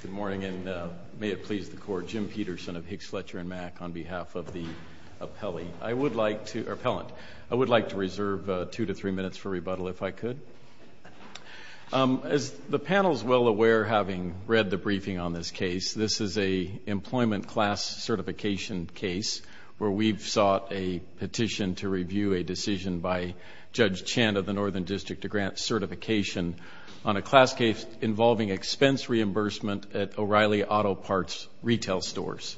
Good morning, and may it please the Court, Jim Peterson of Hicks, Fletcher & Mack, on behalf of the appellant, I would like to reserve two to three minutes for rebuttal, if I could. As the panel is well aware, having read the briefing on this case, this is an employment class certification case where we've sought a petition to review a decision by Judge Chan of the Northern District to grant certification on a class case involving expense reimbursement at O'Reilly Auto Parts retail stores.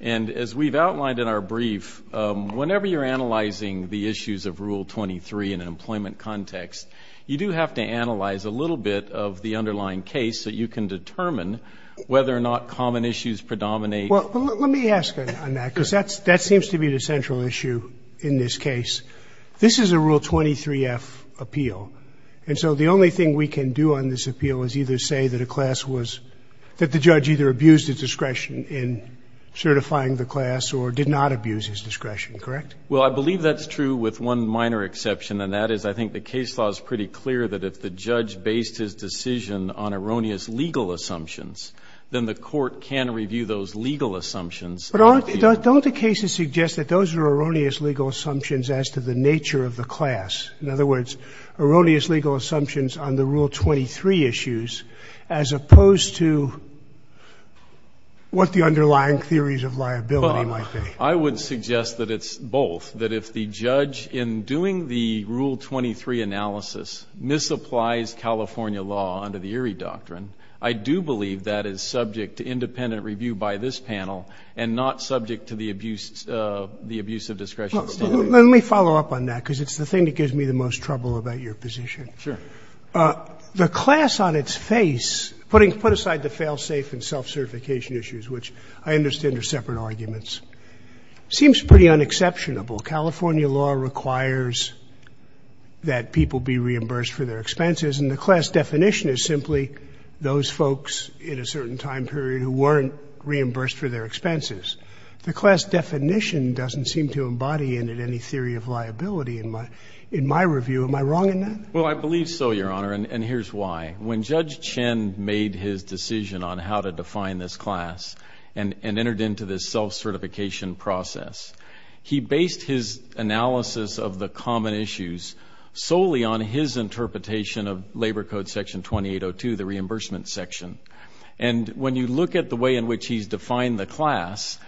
And as we've outlined in our brief, whenever you're analyzing the issues of Rule 23 in an employment context, you do have to analyze a little bit of the underlying case so you can determine whether or not common issues predominate. Well, let me ask on that, because that seems to be the central issue in this case. This is a Rule 23-F appeal, and so the only thing we can do on this appeal is either say that a class was — that the judge either abused his discretion in certifying the class or did not abuse his discretion, correct? Well, I believe that's true with one minor exception, and that is I think the case law is pretty clear that if the judge based his decision on erroneous legal assumptions, then the Court can review those legal assumptions. But don't the cases suggest that those are erroneous legal assumptions as to the nature of the class? In other words, erroneous legal assumptions on the Rule 23 issues as opposed to what the underlying theories of liability might be? I would suggest that it's both, that if the judge in doing the Rule 23 analysis misapplies California law under the Erie Doctrine, I do believe that is subject to independent review by this panel and not subject to the abuse of discretion. Let me follow up on that, because it's the thing that gives me the most trouble about your position. Sure. The class on its face, putting aside the fail-safe and self-certification issues, which I understand are separate arguments, seems pretty unexceptionable. California law requires that people be reimbursed for their expenses, and the class definition is simply those folks in a certain time period who weren't reimbursed for their expenses. The class definition doesn't seem to embody any theory of liability in my review. Am I wrong in that? Well, I believe so, Your Honor, and here's why. When Judge Chin made his decision on how to define this class and entered into this self-certification process, he based his analysis of the common issues solely on his interpretation of Labor Code Section 2802, the reimbursement section, and when you look at the way in which he's defined the class,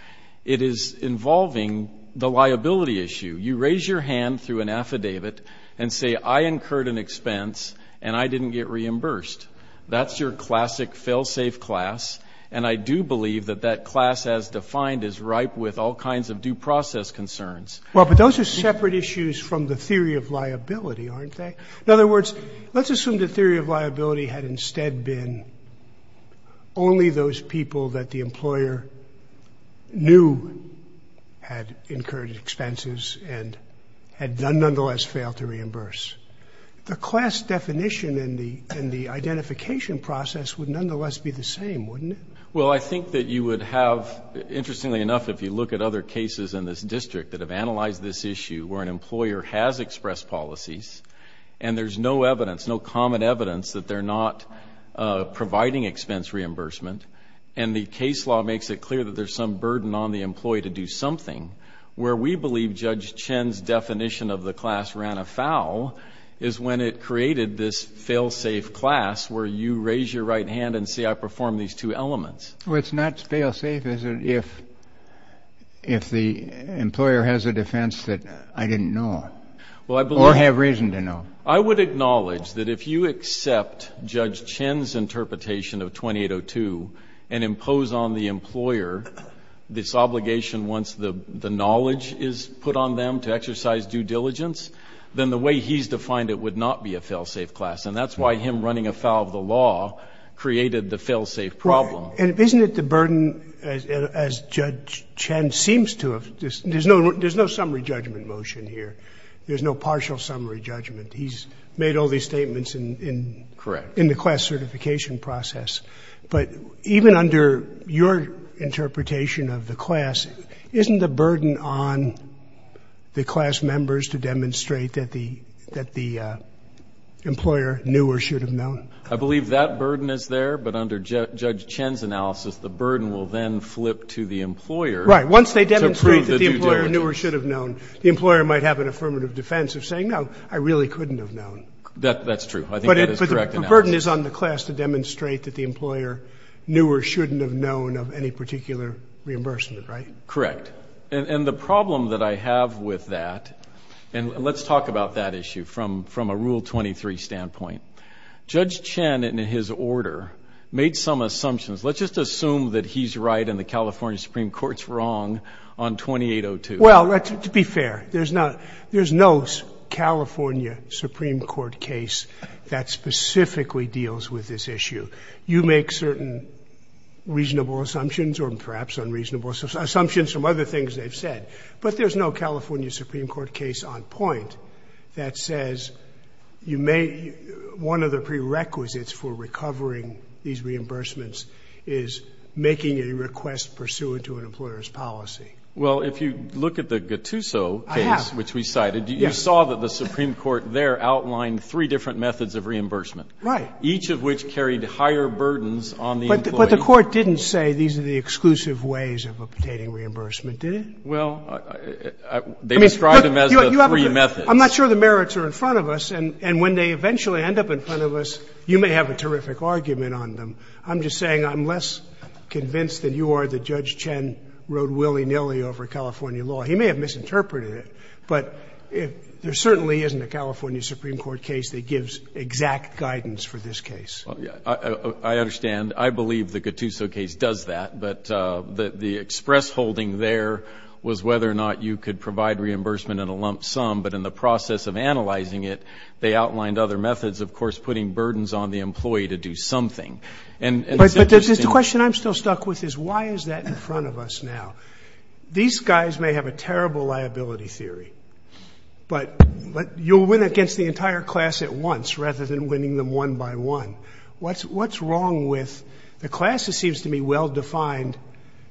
it is involving the liability issue. You raise your hand through an affidavit and say, I incurred an expense and I didn't get reimbursed. That's your classic fail-safe class, and I do believe that that class as defined is ripe with all kinds of due process concerns. Well, but those are separate issues from the theory of liability, aren't they? In other words, let's assume the theory of liability had instead been only those people that the employer knew had incurred expenses and had nonetheless failed to reimburse. The class definition in the identification process would nonetheless be the same, wouldn't it? Well, I think that you would have, interestingly enough, if you look at other cases in this And there's no evidence, no common evidence that they're not providing expense reimbursement, and the case law makes it clear that there's some burden on the employee to do something. Where we believe Judge Chen's definition of the class ran afoul is when it created this fail-safe class where you raise your right hand and say, I perform these two elements. Well, it's not fail-safe if the employer has a defense that I didn't know of or have reason to know. I would acknowledge that if you accept Judge Chen's interpretation of 2802 and impose on the employer this obligation once the knowledge is put on them to exercise due diligence, then the way he's defined it would not be a fail-safe class. And that's why him running afoul of the law created the fail-safe problem. Right. And isn't it the burden, as Judge Chen seems to have, there's no summary judgment motion here. There's no partial summary judgment. He's made all these statements in the class certification process. But even under your interpretation of the class, isn't the burden on the class members to demonstrate that the employer knew or should have known? I believe that burden is there, but under Judge Chen's analysis, the burden will then Right. The employer might have an affirmative defense of saying, no, I really couldn't have known. That's true. I think that is correct analysis. But the burden is on the class to demonstrate that the employer knew or shouldn't have known of any particular reimbursement, right? Correct. And the problem that I have with that, and let's talk about that issue from a Rule 23 standpoint. Judge Chen, in his order, made some assumptions. Let's just assume that he's right and the California Supreme Court's wrong on 2802. Well, to be fair. There's no California Supreme Court case that specifically deals with this issue. You make certain reasonable assumptions or perhaps unreasonable assumptions from other things they've said. But there's no California Supreme Court case on point that says one of the prerequisites for recovering these reimbursements is making a request pursuant to an employer's policy. Well, if you look at the Gattuso case, which we cited, you saw that the Supreme Court there outlined three different methods of reimbursement, each of which carried higher burdens on the employee. But the court didn't say these are the exclusive ways of obtaining reimbursement, did it? Well, they described them as the three methods. I'm not sure the merits are in front of us. And when they eventually end up in front of us, you may have a terrific argument on them. I'm just saying I'm less convinced than you are that Judge Chen wrote willy-nilly over California law. He may have misinterpreted it. But there certainly isn't a California Supreme Court case that gives exact guidance for this case. I understand. I believe the Gattuso case does that. But the express holding there was whether or not you could provide reimbursement in a lump sum. But in the process of analyzing it, they outlined other methods, of course, putting burdens on the employee to do something. And it's interesting. But the question I'm still stuck with is why is that in front of us now? These guys may have a terrible liability theory, but you'll win against the entire class at once rather than winning them one by one. What's wrong with the class that seems to be well-defined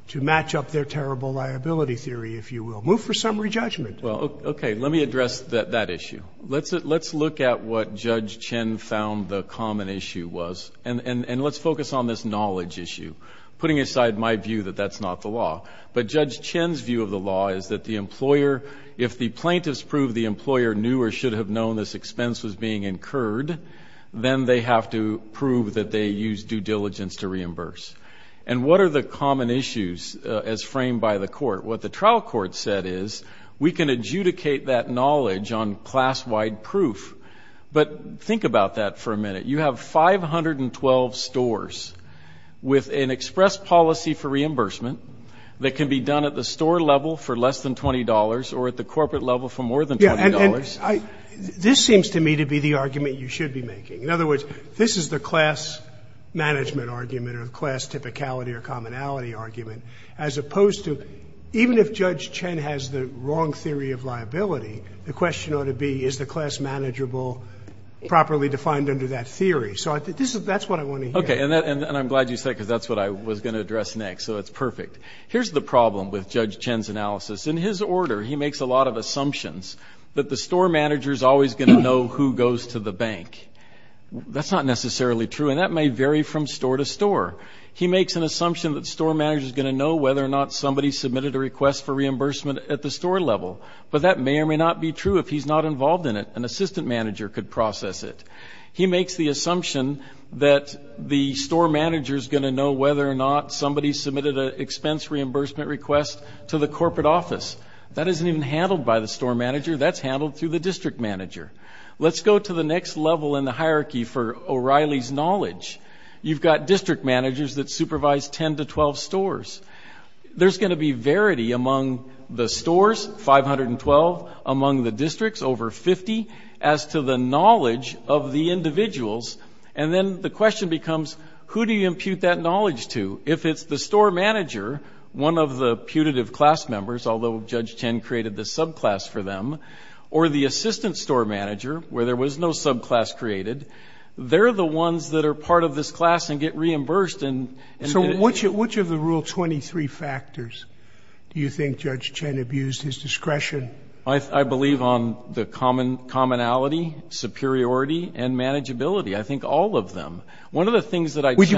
to match up their terrible liability theory, if you will? Move for summary judgment. Well, okay. Let me address that issue. Let's look at what Judge Chen found the common issue was. And let's focus on this knowledge issue, putting aside my view that that's not the law. But Judge Chen's view of the law is that the employer, if the plaintiffs prove the employer knew or should have known this expense was being incurred, then they have to prove that they used due diligence to reimburse. And what are the common issues as framed by the court? What the trial court said is we can adjudicate that knowledge on class-wide proof. But think about that for a minute. You have 512 stores with an express policy for reimbursement that can be done at the store level for less than $20 or at the corporate level for more than $20. This seems to me to be the argument you should be making. In other words, this is the class management argument or the class typicality or commonality argument, as opposed to even if Judge Chen has the wrong theory of liability, the question ought to be is the class manageable properly defined under that theory. So that's what I want to hear. Okay. And I'm glad you said it because that's what I was going to address next. So it's perfect. Here's the problem with Judge Chen's analysis. In his order, he makes a lot of assumptions that the store manager is always going to know who goes to the bank. That's not necessarily true. And that may vary from store to store. He makes an assumption that the store manager is going to know whether or not somebody submitted a request for reimbursement at the store level. But that may or may not be true if he's not involved in it. An assistant manager could process it. He makes the assumption that the store manager is going to know whether or not somebody submitted an expense reimbursement request to the corporate office. That isn't even handled by the store manager. That's handled through the district manager. Let's go to the next level in the hierarchy for O'Reilly's knowledge. You've got district managers that supervise 10 to 12 stores. There's going to be verity among the stores, 512, among the districts, over 50, as to the knowledge of the individuals. And then the question becomes, who do you impute that knowledge to? If it's the store manager, one of the putative class members, although Judge Chen created the subclass for them, or the assistant store manager, where there was no subclass created, they're the ones that are part of this class and get reimbursed. And so which of the Rule 23 factors do you think Judge Chen abused his discretion? I believe on the commonality, superiority, and manageability. I think all of them. One of the things that I do.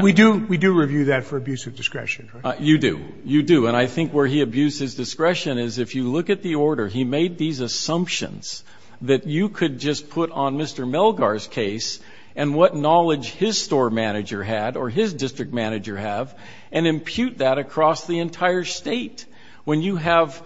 We do review that for abuse of discretion, right? You do. You do. And I think where he abused his discretion is, if you look at the order, he made these Elgar's case, and what knowledge his store manager had, or his district manager have, and impute that across the entire state. When you have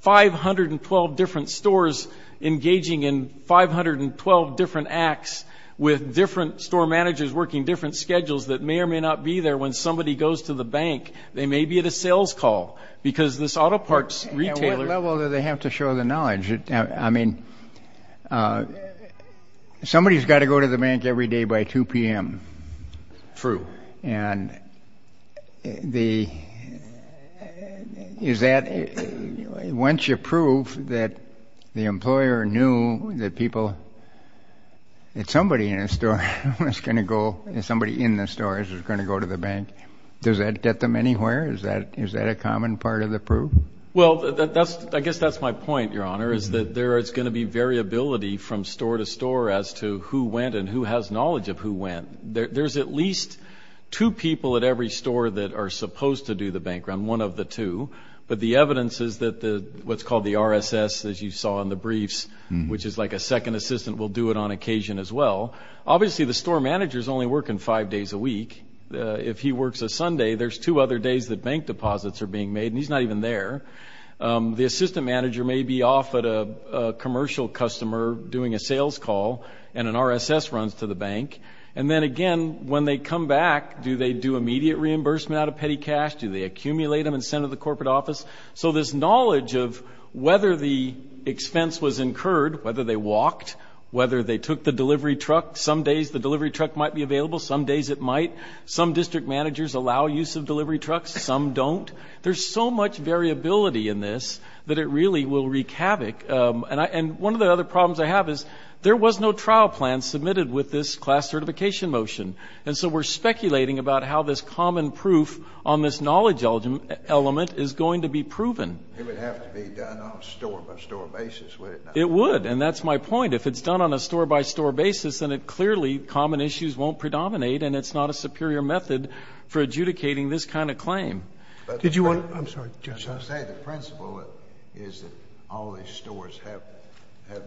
512 different stores engaging in 512 different acts, with different store managers working different schedules that may or may not be there, when somebody goes to the bank, they may be at a sales call. Because this auto parts retailer- At what level do they have to show the knowledge? I mean, somebody's got to go to the bank every day by 2 p.m. True. And is that, once you prove that the employer knew that people, that somebody in the store is going to go to the bank, does that get them anywhere? Is that a common part of the proof? Well, I guess that's my point, Your Honor, is that there is going to be variability from store to store as to who went and who has knowledge of who went. There's at least two people at every store that are supposed to do the bank run, one of the two. But the evidence is that what's called the RSS, as you saw in the briefs, which is like a second assistant will do it on occasion as well. Obviously, the store manager's only working five days a week. If he works a Sunday, there's two other days that bank deposits are being made, and he's not even there. The assistant manager may be off at a commercial customer doing a sales call, and an RSS runs to the bank. And then again, when they come back, do they do immediate reimbursement out of petty cash? Do they accumulate them and send them to the corporate office? So this knowledge of whether the expense was incurred, whether they walked, whether they took the delivery truck, some days the delivery truck might be available, some days it might. Some district managers allow use of delivery trucks, some don't. There's so much variability in this that it really will wreak havoc. And one of the other problems I have is there was no trial plan submitted with this class certification motion. And so we're speculating about how this common proof on this knowledge element is going to be proven. It would have to be done on a store-by-store basis, would it not? It would. And that's my point. If it's done on a store-by-store basis, then it clearly, common issues won't predominate, and it's not a superior method for adjudicating this kind of claim. I'm sorry, Judge. I was going to say the principle is that all these stores have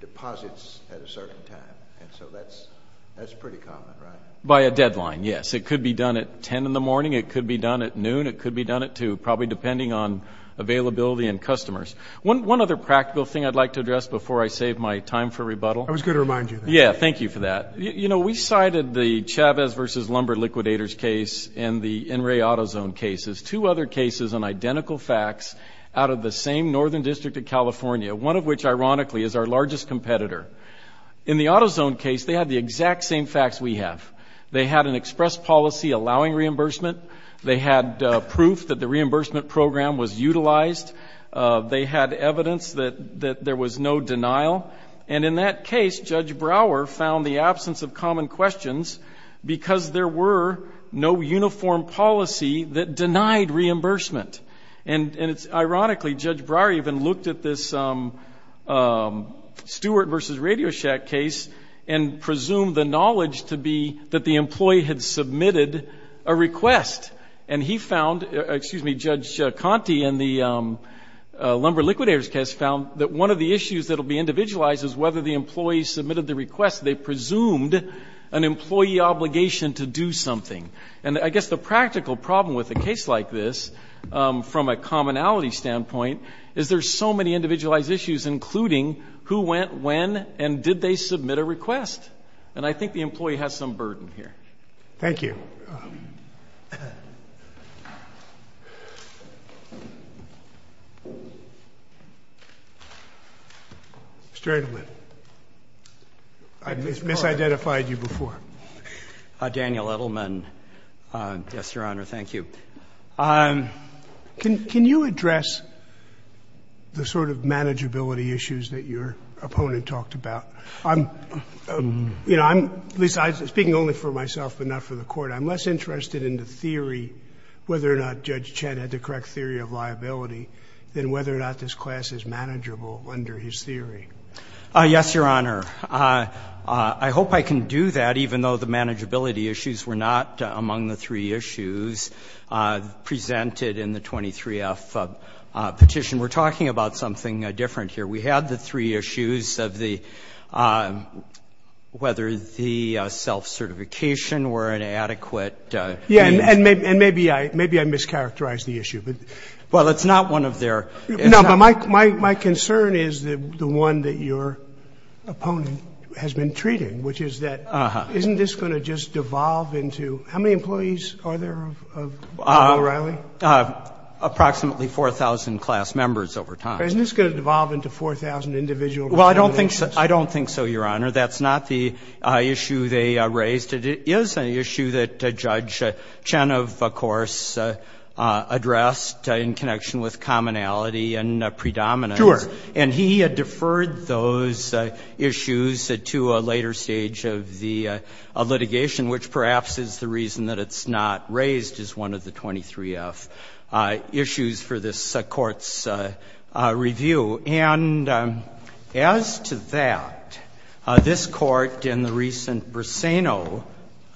deposits at a certain time. And so that's pretty common, right? By a deadline, yes. It could be done at 10 in the morning. It could be done at noon. It could be done at 2, probably depending on availability and customers. One other practical thing I'd like to address before I save my time for rebuttal. I was going to remind you. Yeah. Thank you for that. You know, we cited the Chavez v. Lumber Liquidators case and the NRA AutoZone cases, two other cases on identical facts out of the same Northern District of California, one of which, ironically, is our largest competitor. In the AutoZone case, they had the exact same facts we have. They had an express policy allowing reimbursement. They had proof that the reimbursement program was utilized. They had evidence that there was no denial. And in that case, Judge Brower found the absence of common questions because there were no uniform policy that denied reimbursement. And ironically, Judge Brower even looked at this Stewart v. Radio Shack case and presumed the knowledge to be that the employee had submitted a request. And he found, excuse me, Judge Conte in the Lumber Liquidators case found that one of the issues that will be individualized is whether the employee submitted the request. They presumed an employee obligation to do something. And I guess the practical problem with a case like this, from a commonality standpoint, is there's so many individualized issues, including who went when and did they submit a request. And I think the employee has some burden here. Thank you. Mr. Edelman, I've misidentified you before. Daniel Edelman, yes, Your Honor, thank you. Can you address the sort of manageability issues that your opponent talked about? I'm, you know, I'm speaking only for myself, but not for the Court. I'm less interested in the theory whether or not Judge Chet had the correct theory of liability than whether or not this class is manageable under his theory. Yes, Your Honor. I hope I can do that, even though the manageability issues were not among the three issues presented in the 23F petition. We're talking about something different here. We had the three issues of the – whether the self-certification were an adequate piece. Yes, and maybe I mischaracterized the issue. Well, it's not one of their – No, but my concern is the one that your opponent has been treating, which is that isn't this going to just devolve into – how many employees are there of O'Reilly? Approximately 4,000 class members over time. Isn't this going to devolve into 4,000 individual – Well, I don't think so, Your Honor. That's not the issue they raised. It is an issue that Judge Chen, of course, addressed in connection with commonality and predominance. Sure. And he deferred those issues to a later stage of the litigation, which perhaps is the reason that it's not raised as one of the 23F issues for this Court's review. And as to that, this Court, in the recent Breseno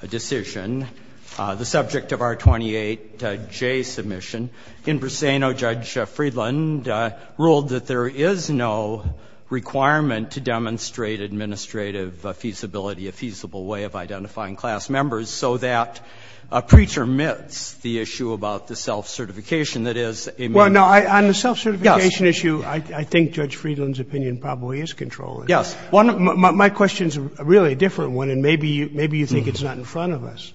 decision, the subject of our 28J submission, in Breseno, Judge Friedland ruled that there is no requirement to demonstrate administrative feasibility, a feasible way of identifying class members, so that pre-termits the issue about the self-certification that is a – Well, no, on the self-certification issue, I think Judge Friedland's opinion probably is controllable. Yes. My question's really a different one, and maybe you think it's not in front of us.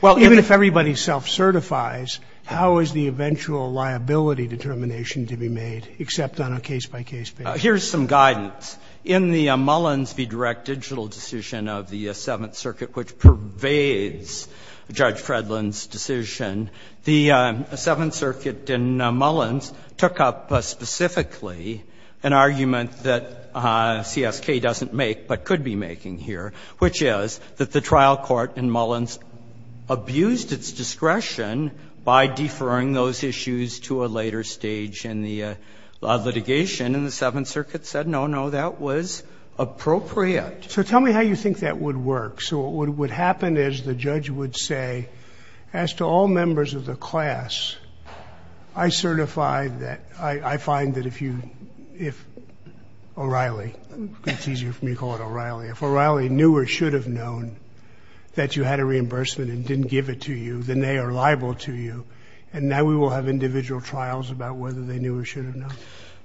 Well, even if everybody self-certifies, how is the eventual liability determination to be made, except on a case-by-case basis? Here's some guidance. In the Mullins v. Direct digital decision of the Seventh Circuit, which pervades Judge Friedland's decision, the Seventh Circuit in Mullins took up specifically an argument that CSK doesn't make but could be making here, which is that the trial court in Mullins abused its discretion by deferring those issues to a later stage in the litigation, and the Seventh Circuit said, no, no, that was appropriate. So tell me how you think that would work. So what would happen is the judge would say, as to all members of the class, I certify that – I find that if you – if O'Reilly – it's easier for me to call it O'Reilly – if O'Reilly knew or should have known that you had a reimbursement and didn't give it to you, then they are liable to you, and now we will have individual trials about whether they knew or should have known.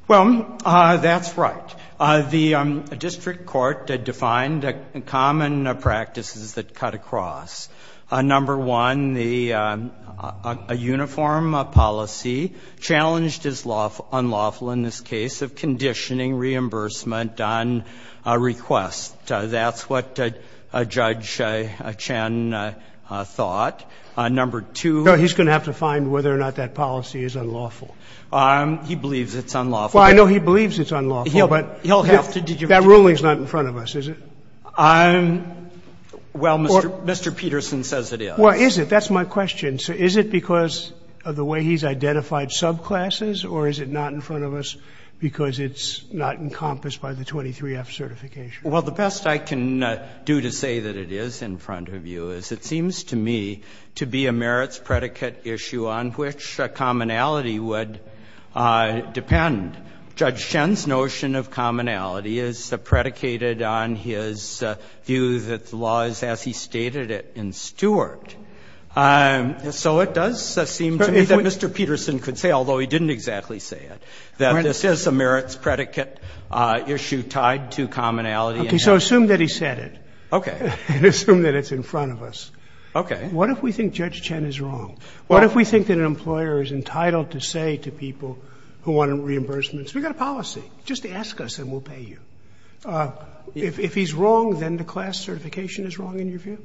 Well, that's right. The district court defined common practices that cut across. Number one, the uniform policy, challenged as unlawful in this case, of conditioning reimbursement on a request. That's what Judge Chen thought. Number two… No, he's going to have to find whether or not that policy is unlawful. He believes it's unlawful. Well, I know he believes it's unlawful. But that ruling is not in front of us, is it? Well, Mr. Peterson says it is. Well, is it? That's my question. So is it because of the way he's identified subclasses, or is it not in front of us because it's not encompassed by the 23F certification? Well, the best I can do to say that it is in front of you is it seems to me to be a merits predicate issue on which commonality would depend. Judge Chen's notion of commonality is predicated on his view that the law is as he stated it in Stewart. So it does seem to me that Mr. Peterson could say, although he didn't exactly say it, that this is a merits predicate issue tied to commonality. Okay. So assume that he said it. Okay. And assume that it's in front of us. Okay. What if we think Judge Chen is wrong? What if we think that an employer is entitled to say to people who want to reimburse them, we've got a policy, just ask us and we'll pay you. If he's wrong, then the class certification is wrong in your view?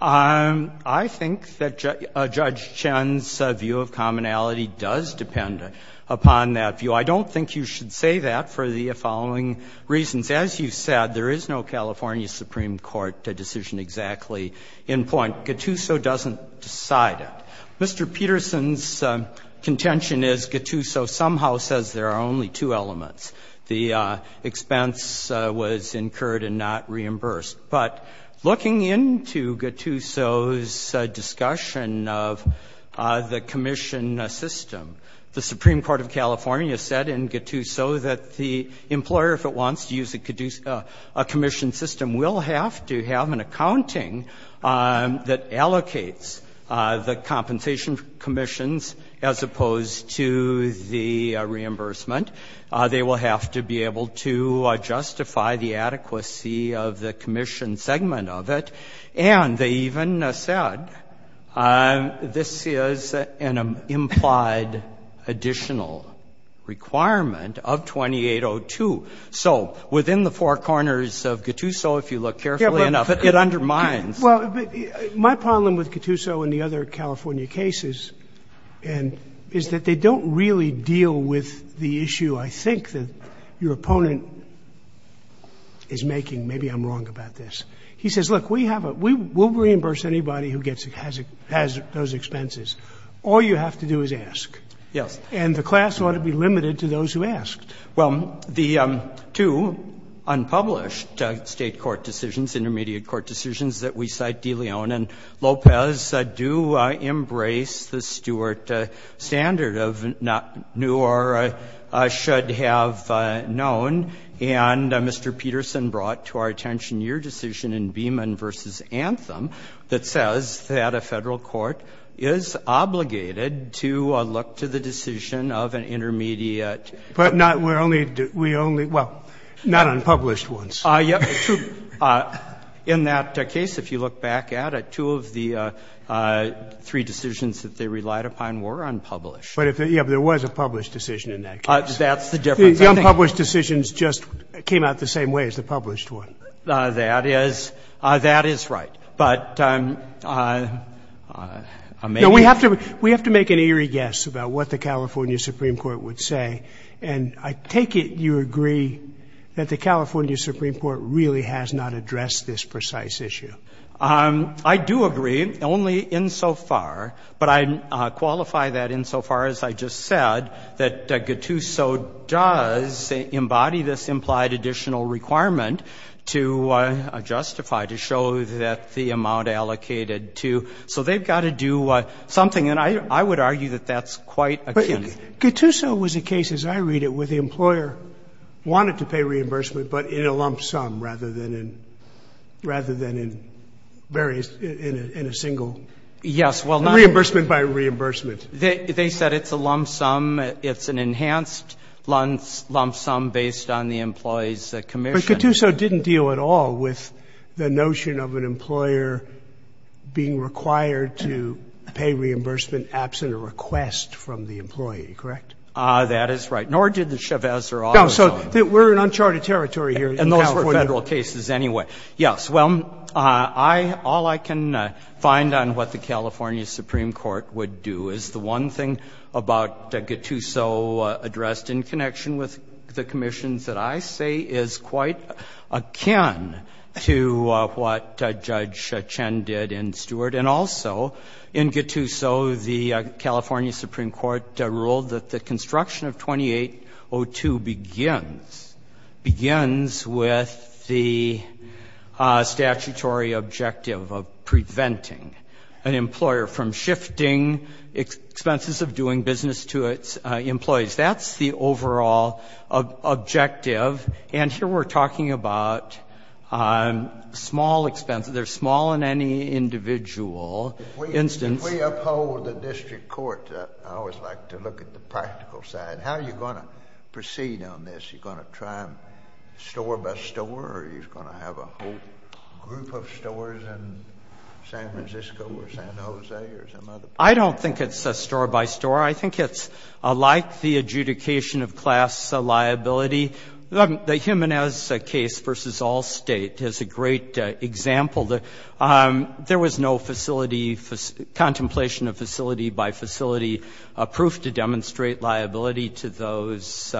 I think that Judge Chen's view of commonality does depend upon that view. I don't think you should say that for the following reasons. As you said, there is no California Supreme Court decision exactly in point. Gattuso doesn't decide it. Mr. Peterson's contention is Gattuso somehow says there are only two elements. The expense was incurred and not reimbursed. But looking into Gattuso's discussion of the commission system, the Supreme Court of California said in Gattuso that the employer, if it wants to use a commission system, will have to have an accounting that allocates the compensation commissions as opposed to the reimbursement. They will have to be able to justify the adequacy of the commission segment of it. And they even said this is an implied additional requirement of 2802. So within the four corners of Gattuso, if you look carefully enough, it undermines. Well, my problem with Gattuso and the other California cases is that they don't really deal with the issue I think that your opponent is making. Maybe I'm wrong about this. He says, look, we'll reimburse anybody who has those expenses. All you have to do is ask. Yes. And the class ought to be limited to those who ask. Well, the two unpublished state court decisions, intermediate court decisions that we cite, De Leon and Lopez, do embrace the Stewart standard of not new or should have known. And Mr. Peterson brought to our attention your decision in Beeman versus Anthem that says that a federal court is obligated to look to the decision of an intermediate. But not we're only, we only, well, not unpublished ones. In that case, if you look back at it, two of the three decisions that they relied upon were unpublished. But if there was a published decision in that case. That's the difference. The unpublished decisions just came out the same way as the published one. That is, that is right. But I may. We have to make an eerie guess about what the California Supreme Court would say. And I take it you agree that the California Supreme Court really has not addressed this precise issue. I do agree, only insofar, but I qualify that insofar as I just said that Gattuso does embody this implied additional requirement to justify, to show that the amount allocated to. So they've got to do something. And I would argue that that's quite akin. Gattuso was a case, as I read it, where the employer wanted to pay reimbursement, but in a lump sum rather than in various, in a single. Yes, well not. Reimbursement by reimbursement. They said it's a lump sum. It's an enhanced lump sum based on the employee's commission. But Gattuso didn't deal at all with the notion of an employer being required to pay reimbursement absent a request from the employee, correct? That is right. Nor did the Chavez or Otto. So we're in uncharted territory here in California. And those were Federal cases anyway. Yes, well, all I can find on what the California Supreme Court would do is the one thing about Gattuso addressed in connection with the commissions that I say is quite akin to what Judge Chen did in Stewart. And also, in Gattuso, the California Supreme Court ruled that the construction of 2802 begins with the statutory objective of preventing an employer from shifting expenses of doing business to its employees. That's the overall objective. And here we're talking about small expenses. They're small in any individual instance. If we uphold the district court, I always like to look at the practical side. How are you going to proceed on this? You're going to try store by store, or are you going to have a whole group of stores in San Francisco or San Jose or some other place? I don't think it's a store by store. I think it's like the adjudication of class liability. The Jimenez case versus Allstate is a great example. There was no facility, contemplation of facility by facility proof to demonstrate liability to those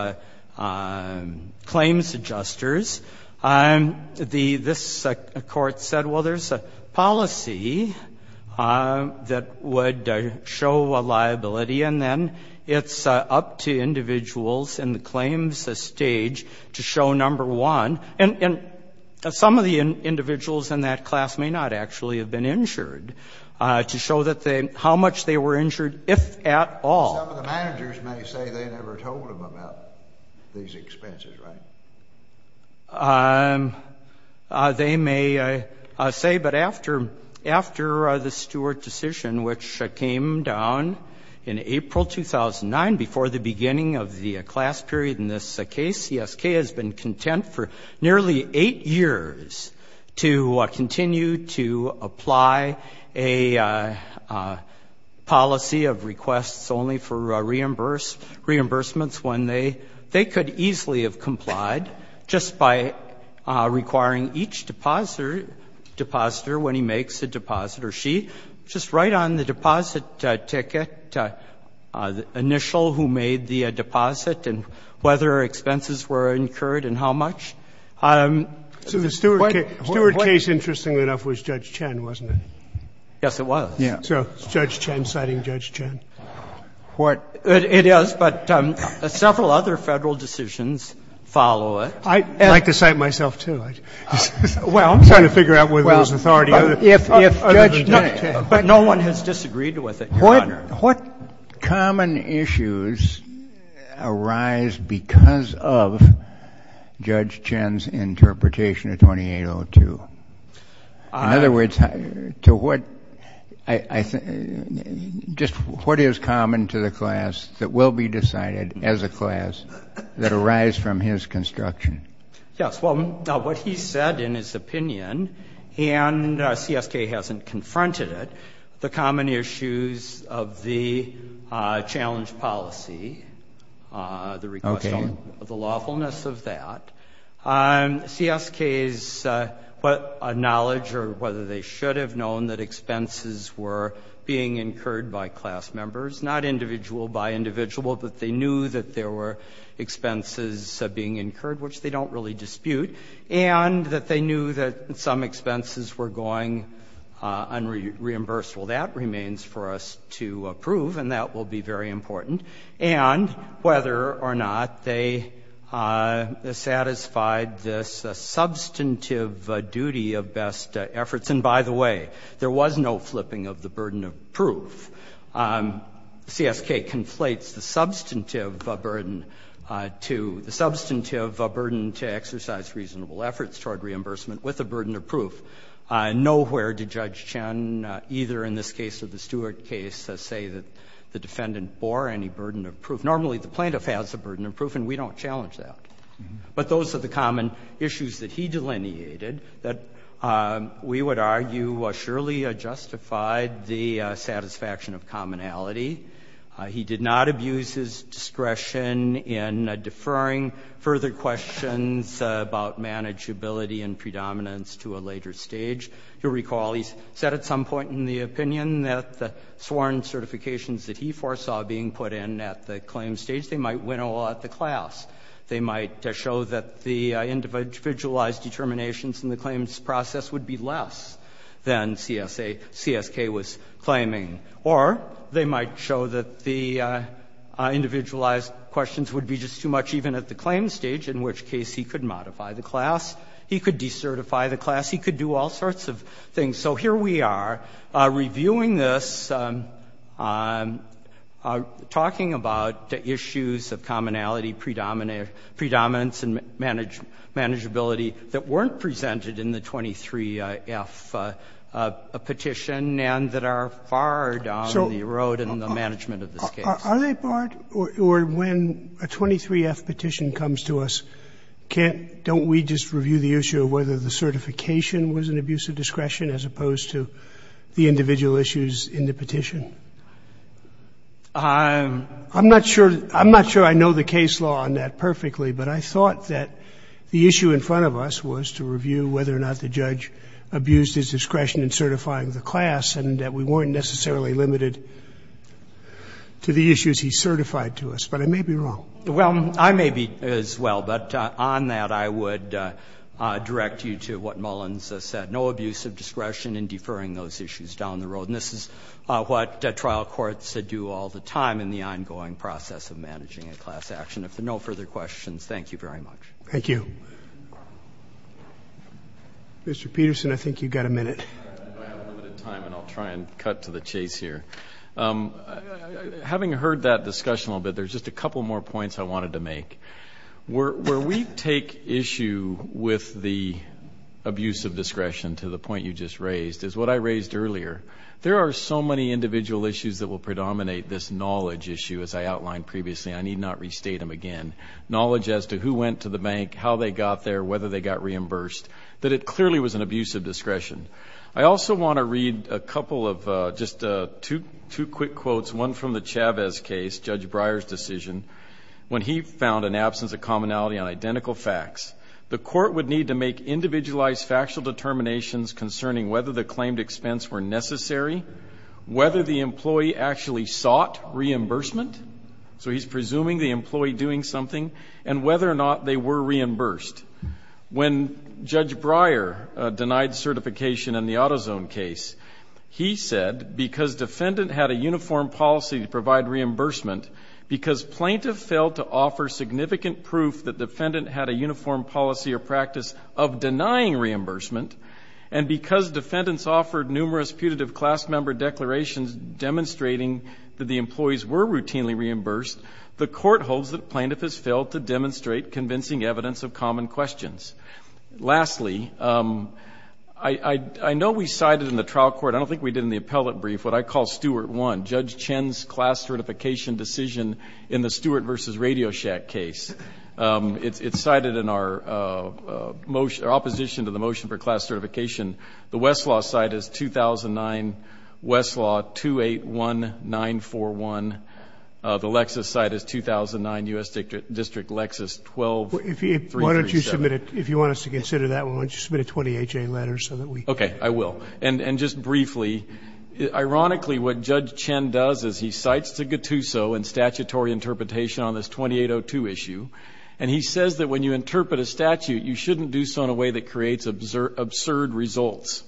claims adjusters. This court said, well, there's a policy that would show a liability, and then it's up to individuals in the claims stage to show number one. And some of the individuals in that class may not actually have been injured to show how much they were injured, if at all. Some of the managers may say they never told them about these expenses, right? They may say, but after the Stewart decision, which came down in April 2009, before the beginning of the class period in this case, CSK has been content for nearly eight years to continue to apply a policy of requests only for reimbursements when they could easily have complied, just by requiring each depositor, when he makes a deposit, or she, just write on the deposit ticket, the initial, who made the deposit, and whether expenses were incurred and how much. So the Stewart case, interestingly enough, was Judge Chen, wasn't it? Yes, it was. So is Judge Chen citing Judge Chen? It is, but several other Federal decisions follow it. I'd like to cite myself, too. I'm trying to figure out whether there's authority other than Judge Chen. But no one has disagreed with it, Your Honor. What common issues arise because of Judge Chen's interpretation of 2802? In other words, just what is common to the class that will be decided as a class that arise from his construction? Yes, well, what he said in his opinion, and CSK hasn't confronted it, the common issues of the challenge policy, the request of the lawfulness of that. CSK's knowledge or whether they should have known that expenses were being incurred by class members, not individual by individual, but they knew that there were expenses being incurred, which they don't really dispute, and that they knew that some expenses were going unreimbursed. Well, that remains for us to approve, and that will be very important, and whether or not they satisfied this substantive duty of best efforts. And by the way, there was no flipping of the burden of proof. CSK conflates the substantive burden to the substantive burden to exercise reasonable efforts toward reimbursement with a burden of proof. Nowhere did Judge Chen, either in this case or the Stewart case, say that the defendant bore any burden of proof. Normally, the plaintiff has a burden of proof, and we don't challenge that. But those are the common issues that he delineated that we would argue surely justified the satisfaction of commonality. He did not abuse his discretion in deferring further questions about manageability and predominance to a later stage. You'll recall he said at some point in the opinion that the sworn certifications that he foresaw being put in at the claim stage, they might win all at the class. They might show that the individualized determinations in the claims process would be less than CSK was claiming. Or they might show that the individualized questions would be just too much even at the claim stage, in which case he could modify the class, he could decertify the class, he could do all sorts of things. So here we are reviewing this, talking about the issues of commonality, predominance and manageability that weren't presented in the 23-F petition and that are barred on the road in the management of this case. Sotomayor, are they barred, or when a 23-F petition comes to us, can't we just review the issue of whether the certification was an abuse of discretion as opposed to the individual issues in the petition? I'm not sure I know the case law on that perfectly. But I thought that the issue in front of us was to review whether or not the judge abused his discretion in certifying the class and that we weren't necessarily limited to the issues he certified to us. But I may be wrong. Well, I may be as well. But on that, I would direct you to what Mullins has said, no abuse of discretion in deferring those issues down the road. And this is what trial courts do all the time in the ongoing process of managing a class action. If there are no further questions, thank you very much. Thank you. Mr. Peterson, I think you've got a minute. I have limited time, and I'll try and cut to the chase here. Having heard that discussion a little bit, there's just a couple more points I wanted to make. Where we take issue with the abuse of discretion, to the point you just raised, is what I raised earlier. There are so many individual issues that will predominate this knowledge issue, as I outlined previously. I need not restate them again. Knowledge as to who went to the bank, how they got there, whether they got reimbursed, that it clearly was an abuse of discretion. I also want to read a couple of just two quick quotes, one from the Chavez case, Judge Breyer's decision, when he found an absence of commonality on identical facts. The court would need to make individualized factual determinations concerning whether the claimed expense were necessary, whether the employee actually sought reimbursement. So he's presuming the employee doing something, and whether or not they were reimbursed. When Judge Breyer denied certification in the AutoZone case, he said, because defendant had a uniform policy to provide reimbursement, because plaintiff failed to offer significant proof that defendant had a uniform policy or practice of denying reimbursement, and because defendants offered numerous putative class member declarations demonstrating that the employees were routinely reimbursed, the court holds that plaintiff has failed to demonstrate convincing evidence of common questions. Lastly, I know we cited in the trial court, I don't think we did in the appellate brief, what I call Stuart 1, Judge Chen's class certification decision in the Stuart versus RadioShack case. It's cited in our opposition to the motion for class certification. The Westlaw side is 2009, Westlaw 281941. The Lexis side is 2009, U.S. District Lexis 12337. If you want us to consider that one, why don't you submit a 20HA letter so that we can. Okay. I will. And just briefly, ironically, what Judge Chen does is he cites de Gattuso in statutory interpretation on this 2802 issue, and he says that when you interpret a statute, you shouldn't do so in a way that creates absurd results.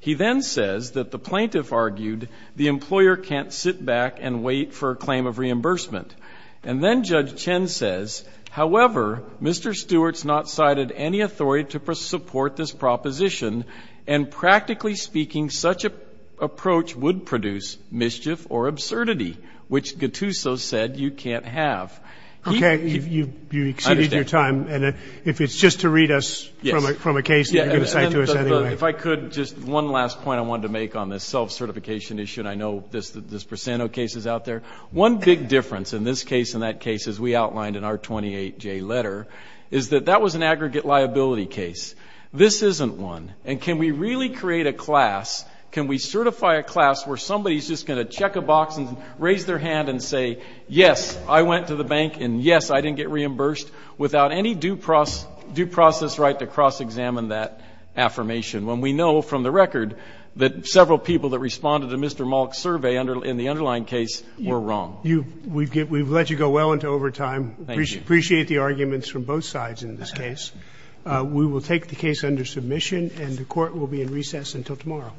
He then says that the plaintiff argued the employer can't sit back and wait for a claim of reimbursement. And then Judge Chen says, however, Mr. Stuart's not cited any authority to support this proposition, and practically speaking, such an approach would produce mischief or absurdity, which Gattuso said you can't have. Okay. You exceeded your time. And if it's just to read us from a case that you're going to cite to us anyway. If I could, just one last point I wanted to make on this self-certification issue, and I know there's percent of cases out there. One big difference in this case and that case, as we outlined in our 28J letter, is that that was an aggregate liability case. This isn't one. And can we really create a class, can we certify a class where somebody's just going to check a box and raise their hand and say, yes, I went to the bank, and yes, I didn't get reimbursed without any due process right to cross-examine that affirmation, when we know from the record that several people that responded to Mr. Malk's survey in the underlying case were wrong? We've let you go well into overtime. Thank you. Appreciate the arguments from both sides in this case. We will take the case under submission, and the Court will be in recess until tomorrow.